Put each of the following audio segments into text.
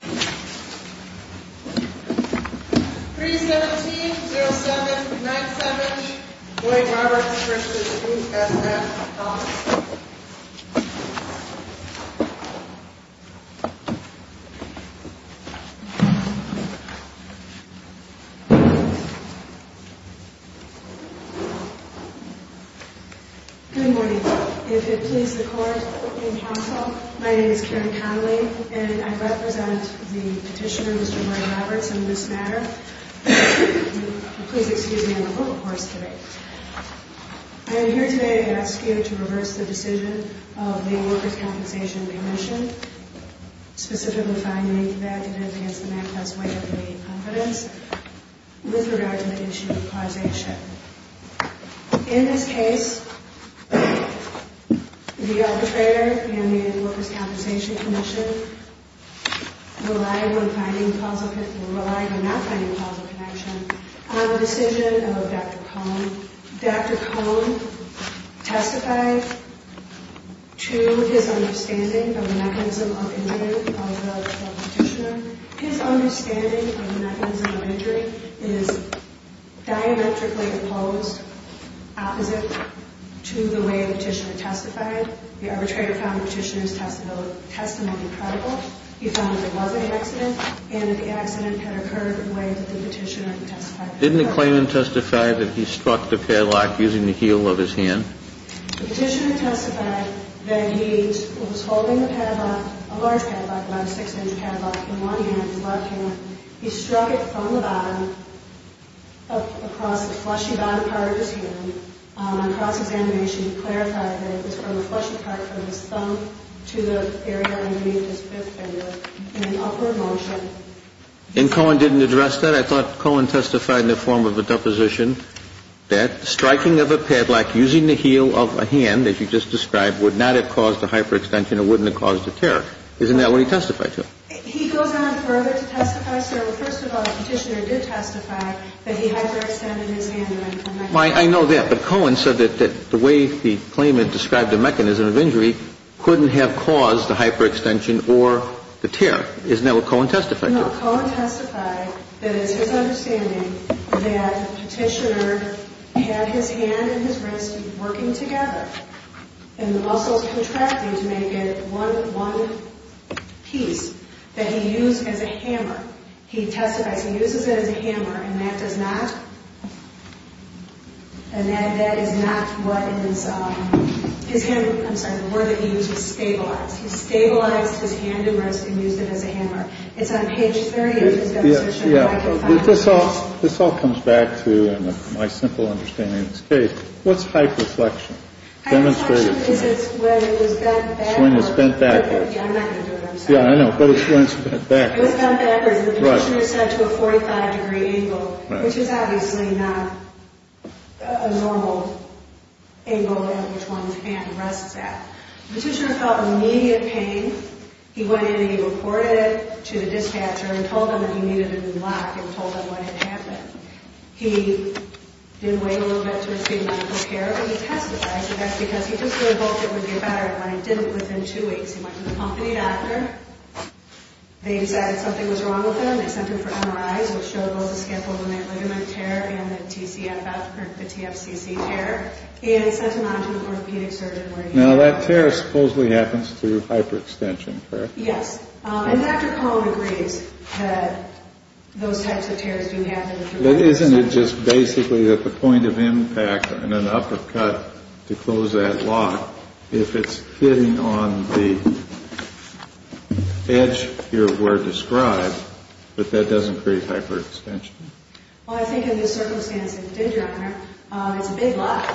317-07-970 Boyd Roberts v. E.S.F. Good morning. If it pleases the Court and Council, my name is Karen Connolly, and I represent the Petitioner, Mr. Boyd Roberts, in this matter. Please excuse me, I'm a little hoarse today. I am here today to ask you to reverse the decision of the Workers' Compensation Commission, specifically finding that it has the manifest way of gaining confidence with regard to the issue of causation. In this case, the arbitrator and the Workers' Compensation Commission relied on not finding causal connection on the decision of Dr. Cohn. Dr. Cohn testified to his understanding of the mechanism of injury of the Petitioner. His understanding of the mechanism of injury is diametrically opposed opposite to the way the Petitioner testified. The arbitrator found the Petitioner's testimony credible. He found that it was an accident and that the accident had occurred in a way that the Petitioner testified. Didn't the claimant testify that he struck the padlock using the heel of his hand? The Petitioner testified that he was holding the padlock, a large padlock, about a six-inch padlock, in one hand, his left hand. He struck it from the bottom, across the fleshy bottom part of his heel, across his animation. He clarified that it was from the fleshy part from his thumb to the area underneath his fifth finger in an upward motion. And Cohn didn't address that? I thought Cohn testified in the form of a deposition that striking of a padlock using the heel of a hand, as you just described, would not have caused a hyperextension or wouldn't have caused a tear. Isn't that what he testified to? He goes on further to testify. So, first of all, the Petitioner did testify that he hyperextended his hand. I know that, but Cohn said that the way the claimant described the mechanism of injury couldn't have caused the hyperextension or the tear. Isn't that what Cohn testified to? No, Cohn testified that it's his understanding that the Petitioner had his hand and his wrist working together and the muscles contracting to make it one piece that he used as a hammer. He testifies he uses it as a hammer, and that does not, and that is not what his, I'm sorry, the word that he used was stabilize. He stabilized his hand and wrist and used it as a hammer. It's on page 30 of his demonstration of hyperextension. This all comes back to my simple understanding of this case. What's hypereflection? Hypereflection is when it was bent backwards. Swing is bent backwards. Yeah, I'm not going to do it, I'm sorry. Yeah, I know, but it's when it's bent backwards. When it's bent backwards, the Petitioner is set to a 45-degree angle, which is obviously not a normal angle in which one's hand rests at. The Petitioner felt immediate pain. He went in and he reported it to the dispatcher and told them that he needed a new lock and told them what had happened. He did wait a little bit to receive medical care, and he testified, but that's because he just really hoped it would get better, and when it didn't, within two weeks, he went to the company doctor. They decided something was wrong with him. They sent him for MRIs, which show those escapolamate ligament tear and the TCFF, or the TFCC tear, and sent him on to the orthopedic surgeon where he was. Now, that tear supposedly happens through hyperextension, correct? Yes, and Dr. Cohn agrees that those types of tears do happen through hyperextension. But isn't it just basically that the point of impact and an uppercut to close that lock, if it's hitting on the edge here of where it's described, that that doesn't create hyperextension? Well, I think in this circumstance it did, Your Honor. It's a big lock.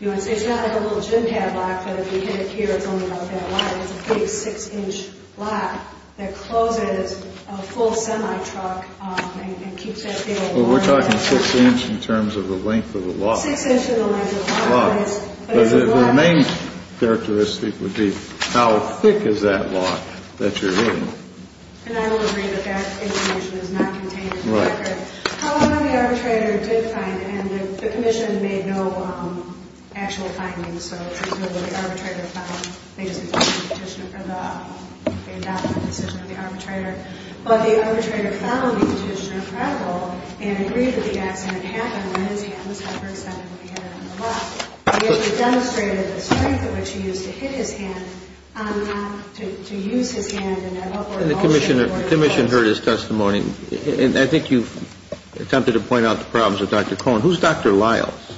So it's not like a little gym cap lock, but if you hit it here, it's only about that wide. It's a big 6-inch lock that closes a full semi-truck and keeps that big lock open. Well, we're talking 6-inch in terms of the length of the lock. 6-inch is the length of the lock. But the main characteristic would be how thick is that lock that you're hitting. And I will agree that that information is not contained in the record. However, the arbitrator did find it, and the commission made no actual findings. So it's as though the arbitrator found it. They just adopted the decision of the arbitrator. But the arbitrator found the petitioner credible and agreed that the accident happened when his hand was hyperextended when he hit her on the left. He actually demonstrated the strength at which he used to hit his hand to use his hand in an upward motion. And the commission heard his testimony. And I think you've attempted to point out the problems with Dr. Cohn. Who's Dr. Lyles?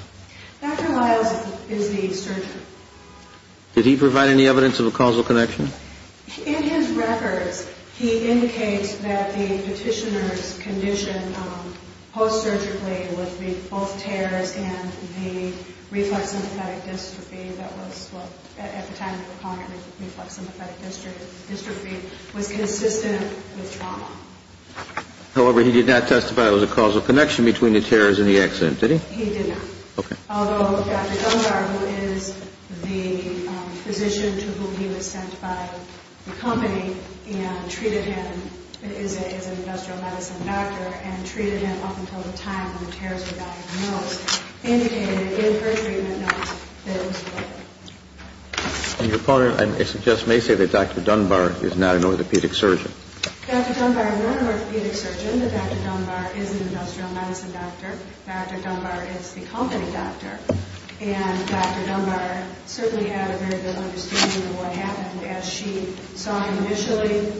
Dr. Lyles is the surgeon. Did he provide any evidence of a causal connection? In his records, he indicates that the petitioner's condition post-surgically would be both tears and the reflux sympathetic dystrophy. However, he did not testify that it was a causal connection between the tears and the accident, did he? He did not. Although Dr. Cohn, who is the physician to whom he was sent by the company and treated him as an industrial medicine doctor and treated him up until the time when tears were diagnosed, And your partner, I suggest, may say that Dr. Dunbar is not an orthopedic surgeon. Dr. Dunbar is not an orthopedic surgeon, but Dr. Dunbar is an industrial medicine doctor. Dr. Dunbar is the company doctor. And Dr. Dunbar certainly had a very good understanding of what happened. As she saw him initially,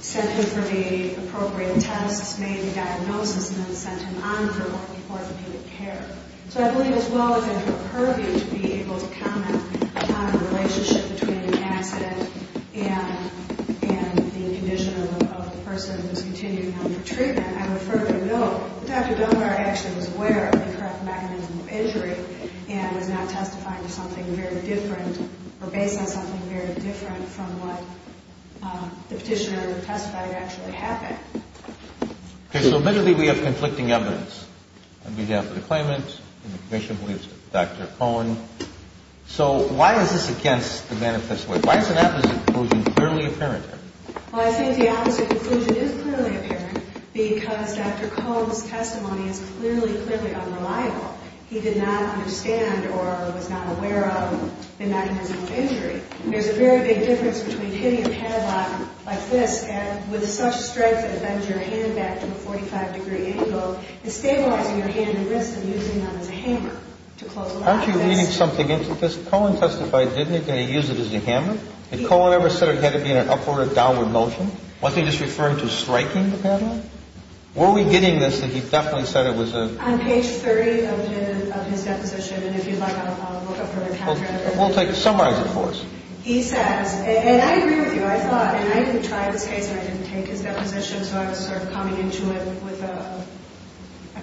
sent him for the appropriate tests, made the diagnosis, and then sent him on for orthopedic care. So I believe as well as I feel pervy to be able to comment on the relationship between the accident and the condition of the person who is continuing on for treatment, I would further note that Dr. Dunbar actually was aware of the correct mechanism of injury and was not testifying to something very different or based on something very different from what the petitioner testified actually happened. Okay, so admittedly we have conflicting evidence. On behalf of the claimant and the commission, we have Dr. Cohen. So why is this against the manifest way? Why is an opposite conclusion clearly apparent here? Well, I think the opposite conclusion is clearly apparent because Dr. Cohen's testimony is clearly, clearly unreliable. He did not understand or was not aware of the mechanism of injury. There's a very big difference between hitting a padlock like this and with such strength that it bends your hand back to a 45-degree angle and stabilizing your hand and wrist and using them as a hammer to close a lock. Aren't you reading something into this? Cohen testified, didn't he, that he used it as a hammer? Did Cohen ever say it had to be in an upward or downward motion? Wasn't he just referring to striking the padlock? Were we getting this that he definitely said it was a – On page 30 of his deposition, and if you'd like I'll look up from my calculator. Well, summarize it for us. He says – and I agree with you. I thought – and I even tried this case and I didn't take his deposition so I was sort of coming into it with a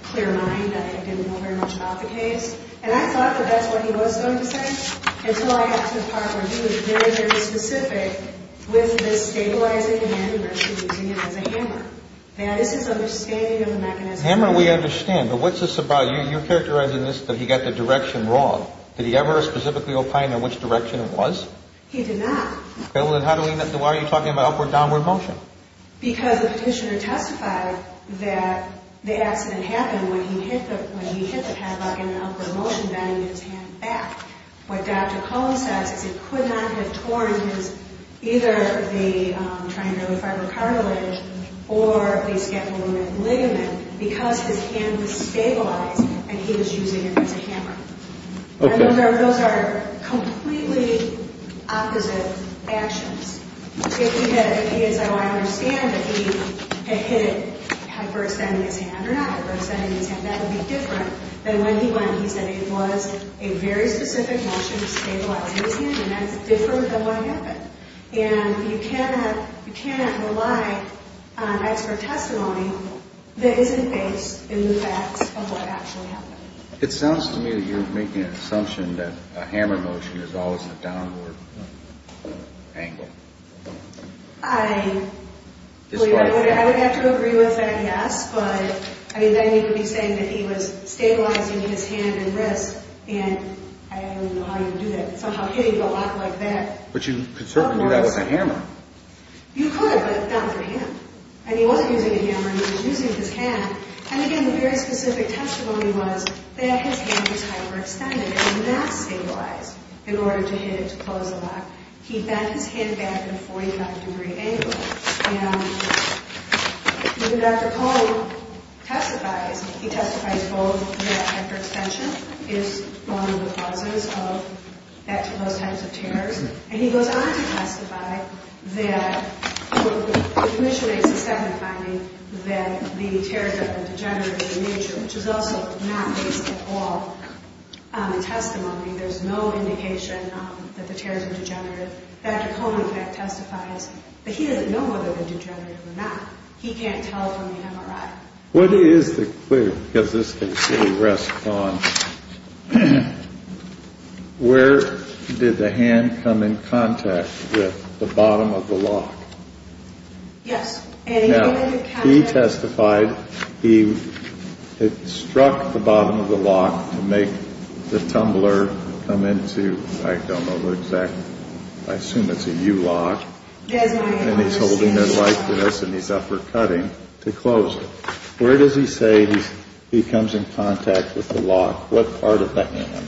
clear mind. I didn't know very much about the case. And I thought that that's what he was going to say until I got to the part where he was very, very specific with the stabilizing hand and wrist and using it as a hammer. Now, this is understanding of the mechanism. Hammer we understand, but what's this about? You're characterizing this that he got the direction wrong. Did he ever specifically opine in which direction it was? He did not. Well, then how do we – why are you talking about upward-downward motion? Because the petitioner testified that the accident happened when he hit the padlock in an upward motion, bending his hand back. What Dr. Cohen says is it could not have torn his – either the triangular fibrocartilage or the scapular ligament because his hand was stabilized and he was using it as a hammer. And those are completely opposite actions. If he had said, well, I understand that he had hit it hyperextending his hand or not hyperextending his hand, that would be different than when he went and he said it was a very specific motion to stabilize his hand and that's different than what happened. And you cannot – you cannot rely on expert testimony that isn't based in the facts of what actually happened. It sounds to me that you're making an assumption that a hammer motion is always a downward angle. I would have to agree with that, yes. But, I mean, then you would be saying that he was stabilizing his hand and wrist and I don't know how you would do that, somehow hitting the lock like that. But you could certainly do that with a hammer. You could, but not for him. And he wasn't using a hammer, he was using his hand. And, again, the very specific testimony was that his hand was hyperextended and not stabilized in order to hit it to close the lock. He bent his hand back at a 45-degree angle. And when Dr. Cole testifies, he testifies both that hyperextension is one of the causes of those types of tears. And he goes on to testify that – he initiates a second finding that the tears are degenerative in nature, which is also not based at all on the testimony. There's no indication that the tears are degenerative. Dr. Cole, in fact, testifies that he doesn't know whether they're degenerative or not. He can't tell from the MRI. What is the clue, because this can certainly rest upon, where did the hand come in contact with the bottom of the lock? Yes. Now, he testified he struck the bottom of the lock to make the tumbler come into – I don't know the exact – I assume it's a U-lock. And he's holding it like this, and he's uppercutting to close it. Where does he say he comes in contact with the lock? What part of the hand?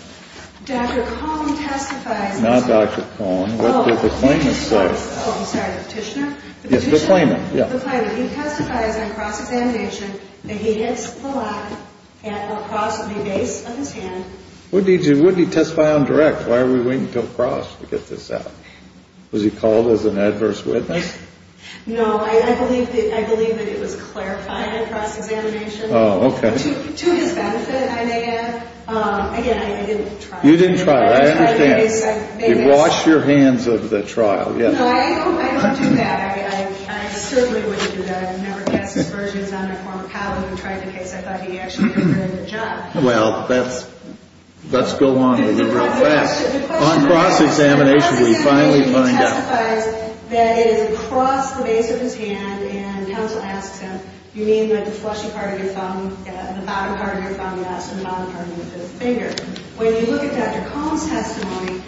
Dr. Cohn testifies – Not Dr. Cohn. What did the claimant say? Oh, I'm sorry, the petitioner? Yes, the claimant. The petitioner, the claimant. He testifies on cross-examination that he hits the lock at or across the base of his hand. What did he do? What did he testify on direct? Why are we waiting until cross to get this out? Was he called as an adverse witness? No, I believe that it was clarified at cross-examination. Oh, okay. To his benefit, I may add, again, I didn't try. You didn't try. I understand. I just wanted to make a – You washed your hands of the trial, yes. No, I don't do that. I certainly wouldn't do that. I've never cast aspersions on a former colleague who tried the case. I thought he actually did a good job. Well, let's go on a little bit fast. On cross-examination, we finally find out. He testifies that it is across the base of his hand, and counsel asks him, do you mean like the fleshy part of your thumb, the bottom part of your thumb? Yes, and the bottom part of your fifth finger. When you look at Dr. Cohn's testimony,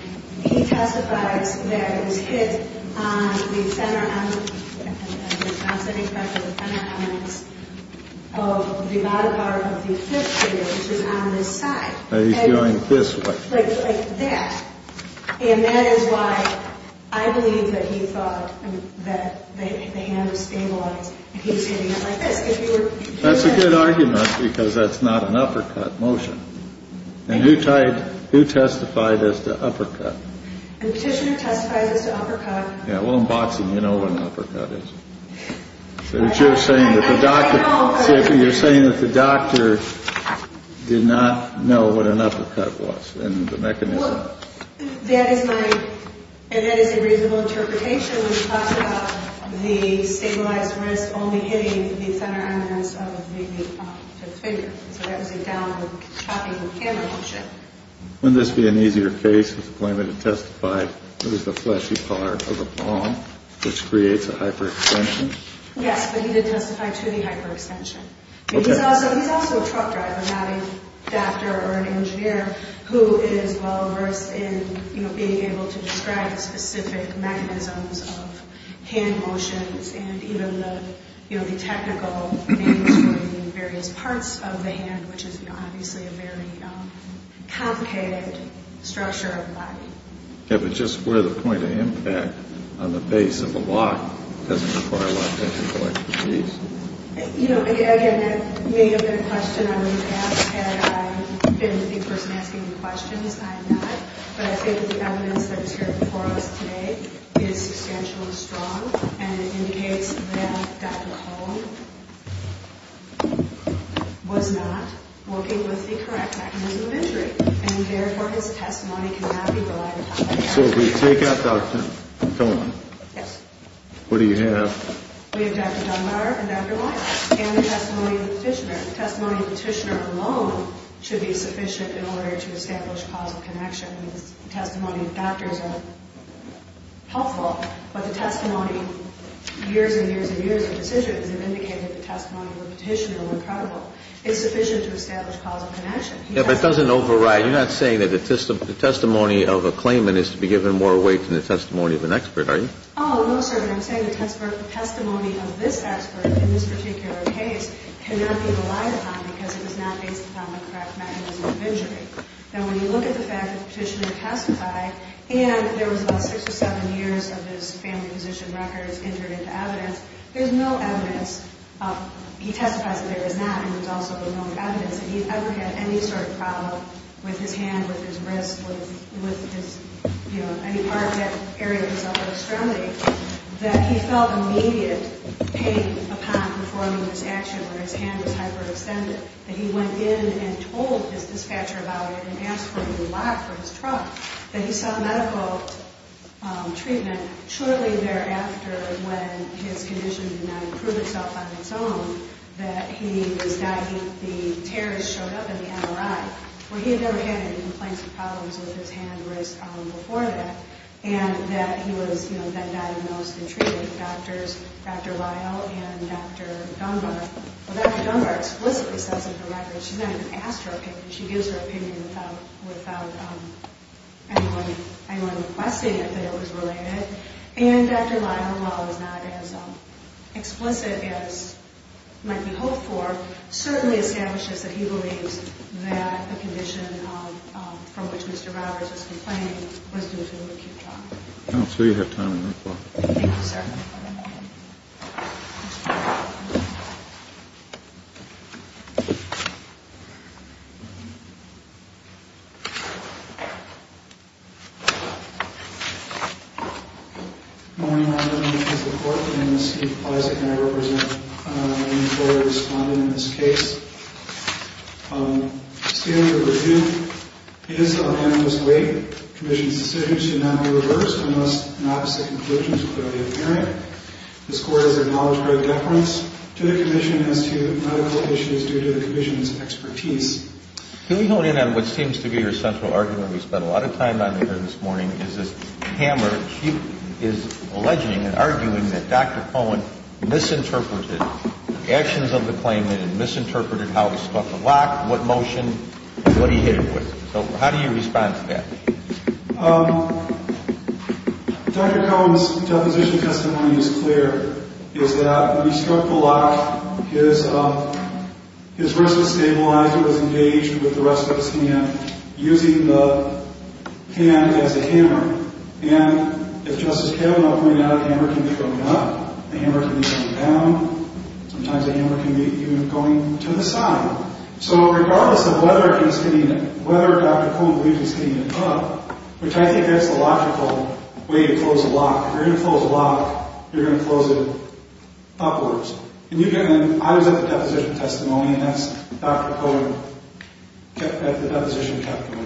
he testifies that it was hit on the center – I'm not saying it's right for the center on the X – of the bottom part of the fifth finger, which is on this side. He's going this way. Like that. And that is why I believe that he thought that the hand was stabilized, and he was hitting it like this. That's a good argument because that's not an uppercut motion. And who testified as to uppercut? The petitioner testifies as to uppercut. Yeah, well, in boxing, you know what an uppercut is. You're saying that the doctor did not know what an uppercut was. Well, that is my – and that is a reasonable interpretation, which talks about the stabilized wrist only hitting the center on the X of the fifth finger. So that was a downward chopping hammer motion. Wouldn't this be an easier case if the plaintiff had testified it was the fleshy part of the palm, which creates a hyperextension? Yes, but he did testify to the hyperextension. He's also a truck driver, not a doctor or an engineer, who is well versed in being able to describe specific mechanisms of hand motions and even the technical names for the various parts of the hand, which is obviously a very complicated structure of the body. Yeah, but just where the point of impact on the base of the lock doesn't require a lot of technical expertise? You know, again, that may have been a question I would have asked had I been the person asking the questions. I am not. But I think the evidence that is here before us today is substantial and strong, and it indicates that Dr. Cohn was not working with the correct mechanism of injury, and therefore his testimony cannot be relied upon. So if we take out Dr. Cohn, what do you have? We have Dr. Dunbar and Dr. Lyles and the testimony of the petitioner. The testimony of the petitioner alone should be sufficient in order to establish causal connection. I mean, the testimony of doctors are helpful, but the testimony of years and years and years of decisions have indicated the testimony of the petitioner were credible. It's sufficient to establish causal connection. Yeah, but it doesn't override. You're not saying that the testimony of a claimant is to be given more weight than the testimony of an expert, are you? Oh, no, sir. And I'm saying the testimony of this expert in this particular case cannot be relied upon because it is not based upon the correct mechanism of injury. Now, when you look at the fact that the petitioner testified and there was about six or seven years of his family physician records entered into evidence, there's no evidence. He testifies that there is not, and there's also no evidence that he ever had any sort of problem with his hand, with his wrist, with any part of that area of his upper extremity, that he felt immediate pain upon performing this action where his hand was hyperextended, that he went in and told his dispatcher about it and asked for a new lock for his truck, that he saw medical treatment shortly thereafter when his condition did not improve itself on its own, that the terrorist showed up in the MRI, where he had never had any complaints or problems with his hand or wrist before that, and that he was then diagnosed and treated. Dr. Lyle and Dr. Dunbar, well, Dr. Dunbar explicitly sets up the records. She's not even asked her opinion. She gives her opinion without anyone requesting it that it was related. And Dr. Lyle, while it was not as explicit as might be hoped for, certainly establishes that he believes that the condition from which Mr. Roberts was complaining was due to acute trauma. I don't see we have time on that part. Thank you, sir. Good morning. My name is Steve Plaza, and I represent the court that responded in this case. The standard of review is a unanimous weight. The commission's decision should not be reversed unless an opposite conclusion is clearly apparent. This court has acknowledged great deference to the commission as to medical issues due to the commission's expertise. Can we hone in on what seems to be your central argument? We spent a lot of time on it here this morning. Dr. Cohen is alleging and arguing that Dr. Cohen misinterpreted the actions of the claimant and misinterpreted how he struck the lock, what motion, and what he hit it with. So how do you respond to that? Dr. Cohen's deposition testimony is clear, is that when he struck the lock, his wrist was stabilized, it was engaged with the rest of his hand. Using the hand as a hammer. And if Justice Kavanaugh pointed out, a hammer can be thrown up, a hammer can be thrown down. Sometimes a hammer can be even going to the side. So regardless of whether Dr. Cohen believes he's hitting it up, which I think that's the logical way to close a lock. If you're going to close a lock, you're going to close it upwards. I was at the deposition testimony, and that's Dr. Cohen at the deposition testimony.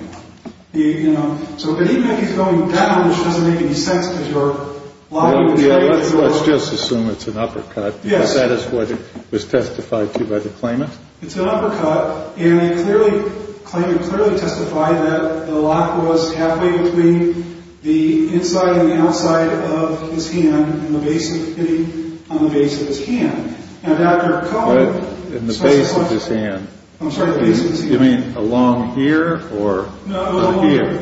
So even if he's going down, which doesn't make any sense because you're lying. Let's just assume it's an uppercut. Yes. Because that is what was testified to by the claimant. It's an uppercut, and the claimant clearly testified that the lock was halfway between the inside and the outside of his hand, hitting on the base of his hand. Now Dr. Cohen... In the base of his hand. I'm sorry, the base of his hand. You mean along here? No, along here.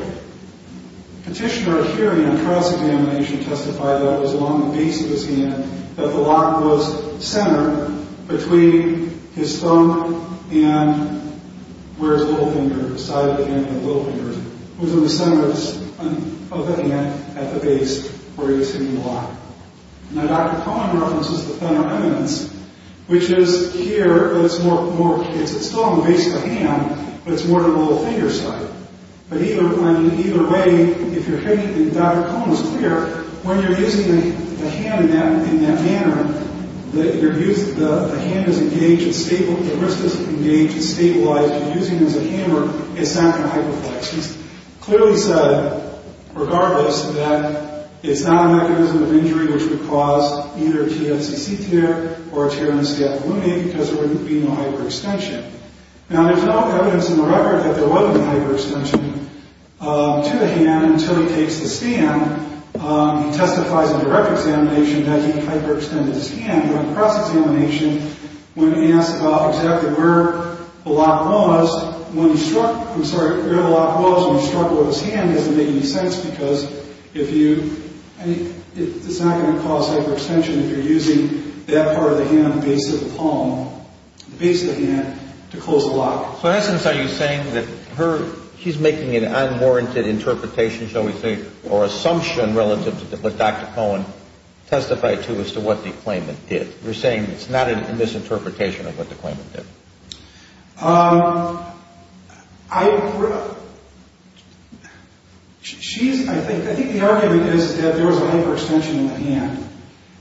Petitioner here in a cross-examination testified that it was along the base of his hand, that the lock was centered between his thumb and where his little finger, the side of the hand and the little finger. It was on the center of the hand at the base where he was hitting the lock. Now Dr. Cohen references the thunder remnants, which is here, it's still on the base of the hand, but it's more on the little finger side. But either way, if you're hitting... Dr. Cohen was clear, when you're using the hand in that manner, the wrist is engaged and stabilized. If you're using it as a hammer, it's not going to hyperflex. He's clearly said, regardless, that it's not a mechanism of injury which would cause either a TFCC tear or a tear in the scapula, because there wouldn't be no hyperextension. Now there's no evidence in the record that there wasn't a hyperextension to the hand until he takes the stand. He testifies in direct examination that he hyperextended his hand during cross-examination when asked about exactly where the lock was. Where the lock was when he struck with his hand doesn't make any sense because it's not going to cause hyperextension if you're using that part of the hand on the base of the palm, the base of the hand, to close the lock. So in essence, are you saying that she's making an unwarranted interpretation, shall we say, or assumption relative to what Dr. Cohen testified to as to what the claimant did? You're saying it's not a misinterpretation of what the claimant did? I think the argument is that there was a hyperextension of the hand,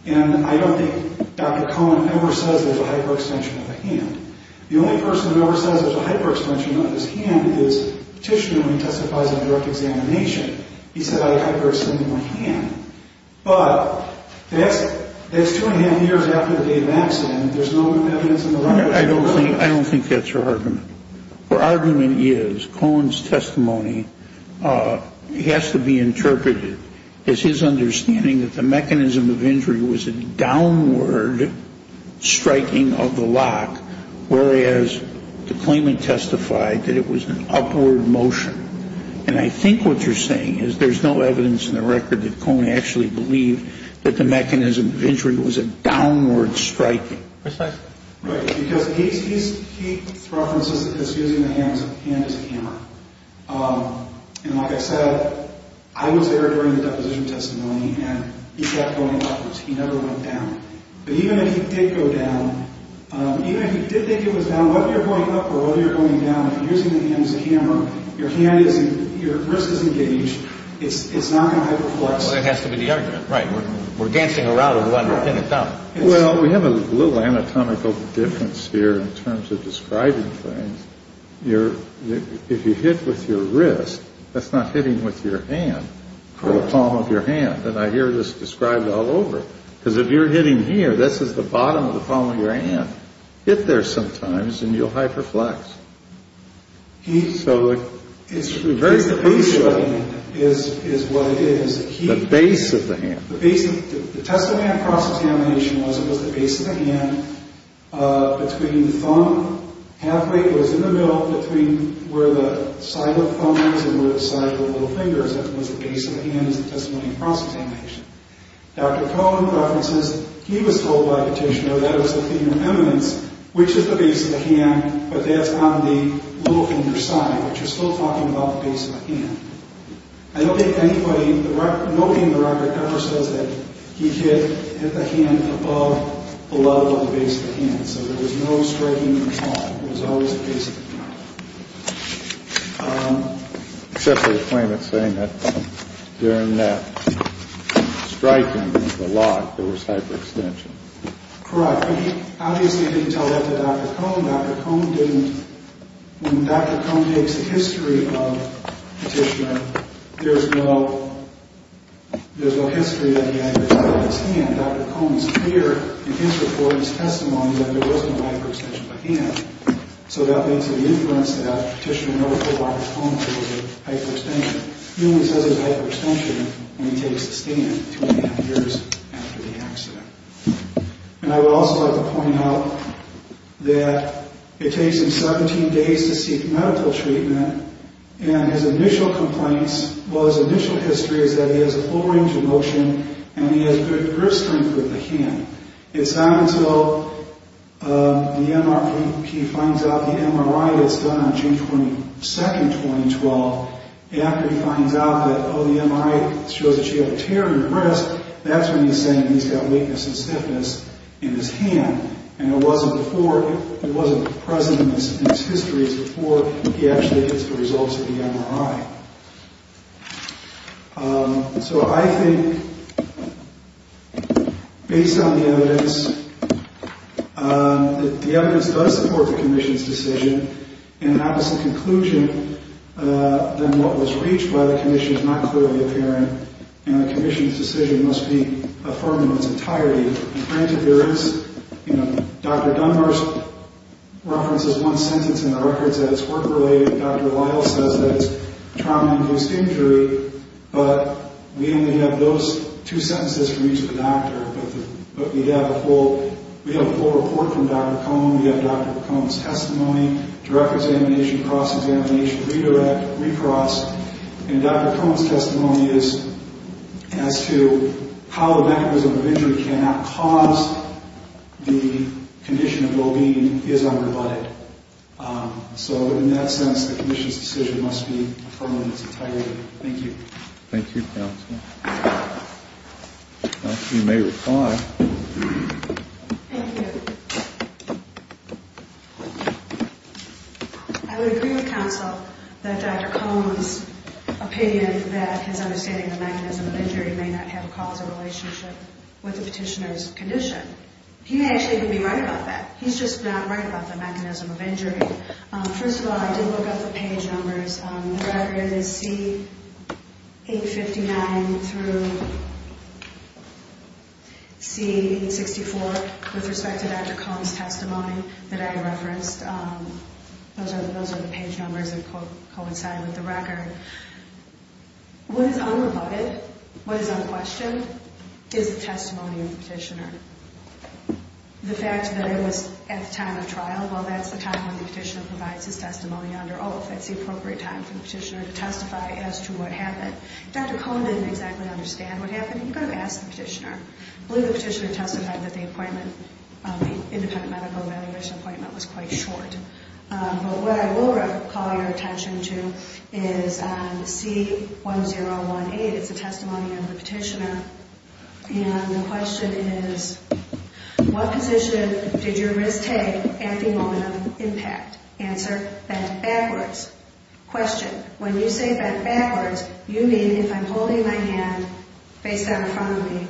and I don't think Dr. Cohen ever says there's a hyperextension of the hand. The only person who ever says there's a hyperextension of his hand is Petitioner when he testifies in direct examination. He said, I hyperextended my hand. But that's two and a half years after the date of accident. There's no evidence in the record. I don't think that's her argument. Her argument is Cohen's testimony has to be interpreted as his understanding that the mechanism of injury was a downward striking of the lock, whereas the claimant testified that it was an upward motion. And I think what you're saying is there's no evidence in the record that Cohen actually believed that the mechanism of injury was a downward striking. Right, because his key reference is that he's using the hand as a hammer. And like I said, I was there during the deposition testimony, and he kept going upwards. He never went down. But even if he did go down, even if he did think it was down, whether you're going up or whether you're going down, if you're using the hand as a hammer, your hand isn't, your wrist isn't engaged, it's not going to hyperflex. Well, that has to be the argument. Right, we're dancing around with one hand up. Well, we have a little anatomical difference here in terms of describing things. If you hit with your wrist, that's not hitting with your hand or the palm of your hand. And I hear this described all over. Because if you're hitting here, this is the bottom of the palm of your hand. Hit there sometimes, and you'll hyperflex. So it's very crucial. It's the base of the hand is what it is. The base of the hand. The testimony of cross-examination was it was the base of the hand between the thumb. Halfway, it was in the middle between where the side of the thumb is and where the side of the little finger is. That was the base of the hand as a testimony of cross-examination. Dr. Cohen references he was told by the petitioner that it was the finger eminence, which is the base of the hand, but that's on the little finger side. But you're still talking about the base of the hand. I don't think anybody, nobody in the record ever says that he hit the hand above, below the base of the hand. So there was no straightening at all. It was always the base of the hand. Except for the claimant saying that during that striking of the lock, there was hyperextension. Correct. But he obviously didn't tell that to Dr. Cohen. Dr. Cohen didn't. When Dr. Cohen makes a history of petitioning, there's no history that he actually held his hand. Dr. Cohen's clear in his report and his testimony that there was no hyperextension of the hand. So that leads to the inference that Petitioner never told Dr. Cohen there was a hyperextension. He only says there's hyperextension when he takes a stand two and a half years after the accident. And I would also like to point out that it takes him 17 days to seek medical treatment, and his initial complaints, well his initial history is that he has a full range of motion, and he has good grip strength with the hand. It's not until he finds out the MRI that's done on June 22, 2012, after he finds out that, oh, the MRI shows that you have a tear in your wrist, that's when he's saying he's got weakness and stiffness in his hand. And it wasn't before, it wasn't present in his histories before he actually gets the results of the MRI. So I think, based on the evidence, that the evidence does support the Commission's decision, and an opposite conclusion than what was reached by the Commission is not clearly apparent, and the Commission's decision must be affirmed in its entirety. And granted there is, you know, Dr. Dunbar references one sentence in the records that is work-related, Dr. Lyle says that it's trauma-inclused injury, but we only have those two sentences for use with a doctor, but we have a full report from Dr. Cohn, we have Dr. Cohn's testimony, direct examination, cross-examination, redirect, recross, and Dr. Cohn's testimony is as to how the mechanism of injury cannot cause the condition of well-being is unrebutted. So in that sense, the Commission's decision must be affirmed in its entirety. Thank you. Thank you, counsel. Counsel, you may reply. Thank you. I would agree with counsel that Dr. Cohn's opinion that his understanding of the mechanism of injury may not have caused a relationship with the petitioner's condition, he may actually be right about that. He's just not right about the mechanism of injury. First of all, I did look up the page numbers. The record is C859 through C864 with respect to Dr. Cohn's testimony that I referenced. Those are the page numbers that coincide with the record. What is unrebutted, what is unquestioned, is the testimony of the petitioner. The fact that it was at the time of trial, well, that's the time when the petitioner provides his testimony under oath. That's the appropriate time for the petitioner to testify as to what happened. Dr. Cohn didn't exactly understand what happened, and you've got to ask the petitioner. I believe the petitioner testified that the appointment, the independent medical evaluation appointment, was quite short. But what I will call your attention to is on C1018, it's a testimony of the petitioner, and the question is, what position did your wrist take at the moment of impact? Answer, bent backwards. Question, when you say bent backwards, you mean if I'm holding my hand facedown in front of me,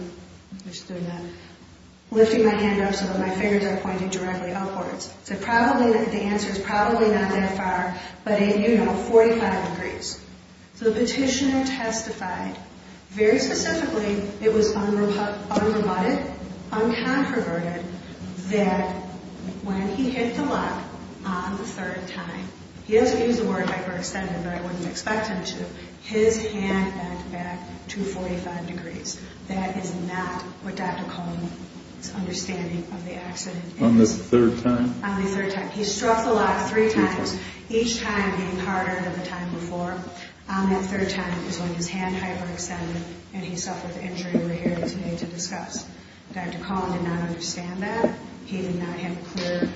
lifting my hand up so that my fingers are pointing directly upwards. The answer is probably not that far, but you know, 45 degrees. So the petitioner testified, very specifically, it was unrebutted, uncontroverted, that when he hit the lock on the third time, he doesn't use the word hyperextended, but I wouldn't expect him to, his hand bent back to 45 degrees. That is not what Dr. Cohn's understanding of the accident is. On the third time? On the third time. He struck the lock three times, each time being harder than the time before. On that third time is when his hand hyperextended and he suffered the injury we're here today to discuss. Dr. Cohn did not understand that. He did not have clear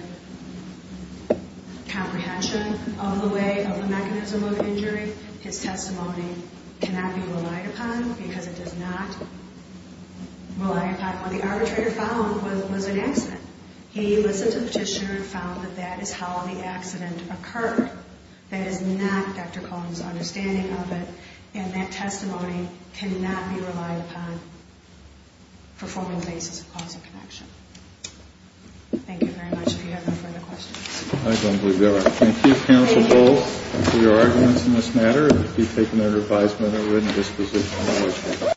comprehension of the way, of the mechanism of injury. His testimony cannot be relied upon because it does not rely upon. The arbitrator found was an accident. He listened to the petitioner and found that that is how the accident occurred. That is not Dr. Cohn's understanding of it. And that testimony cannot be relied upon for forming the basis of cause and connection. Thank you very much. If you have no further questions. I don't believe there are. Thank you, counsel Bowles, for your arguments in this matter. And thank you for taking the advisement and written disposition.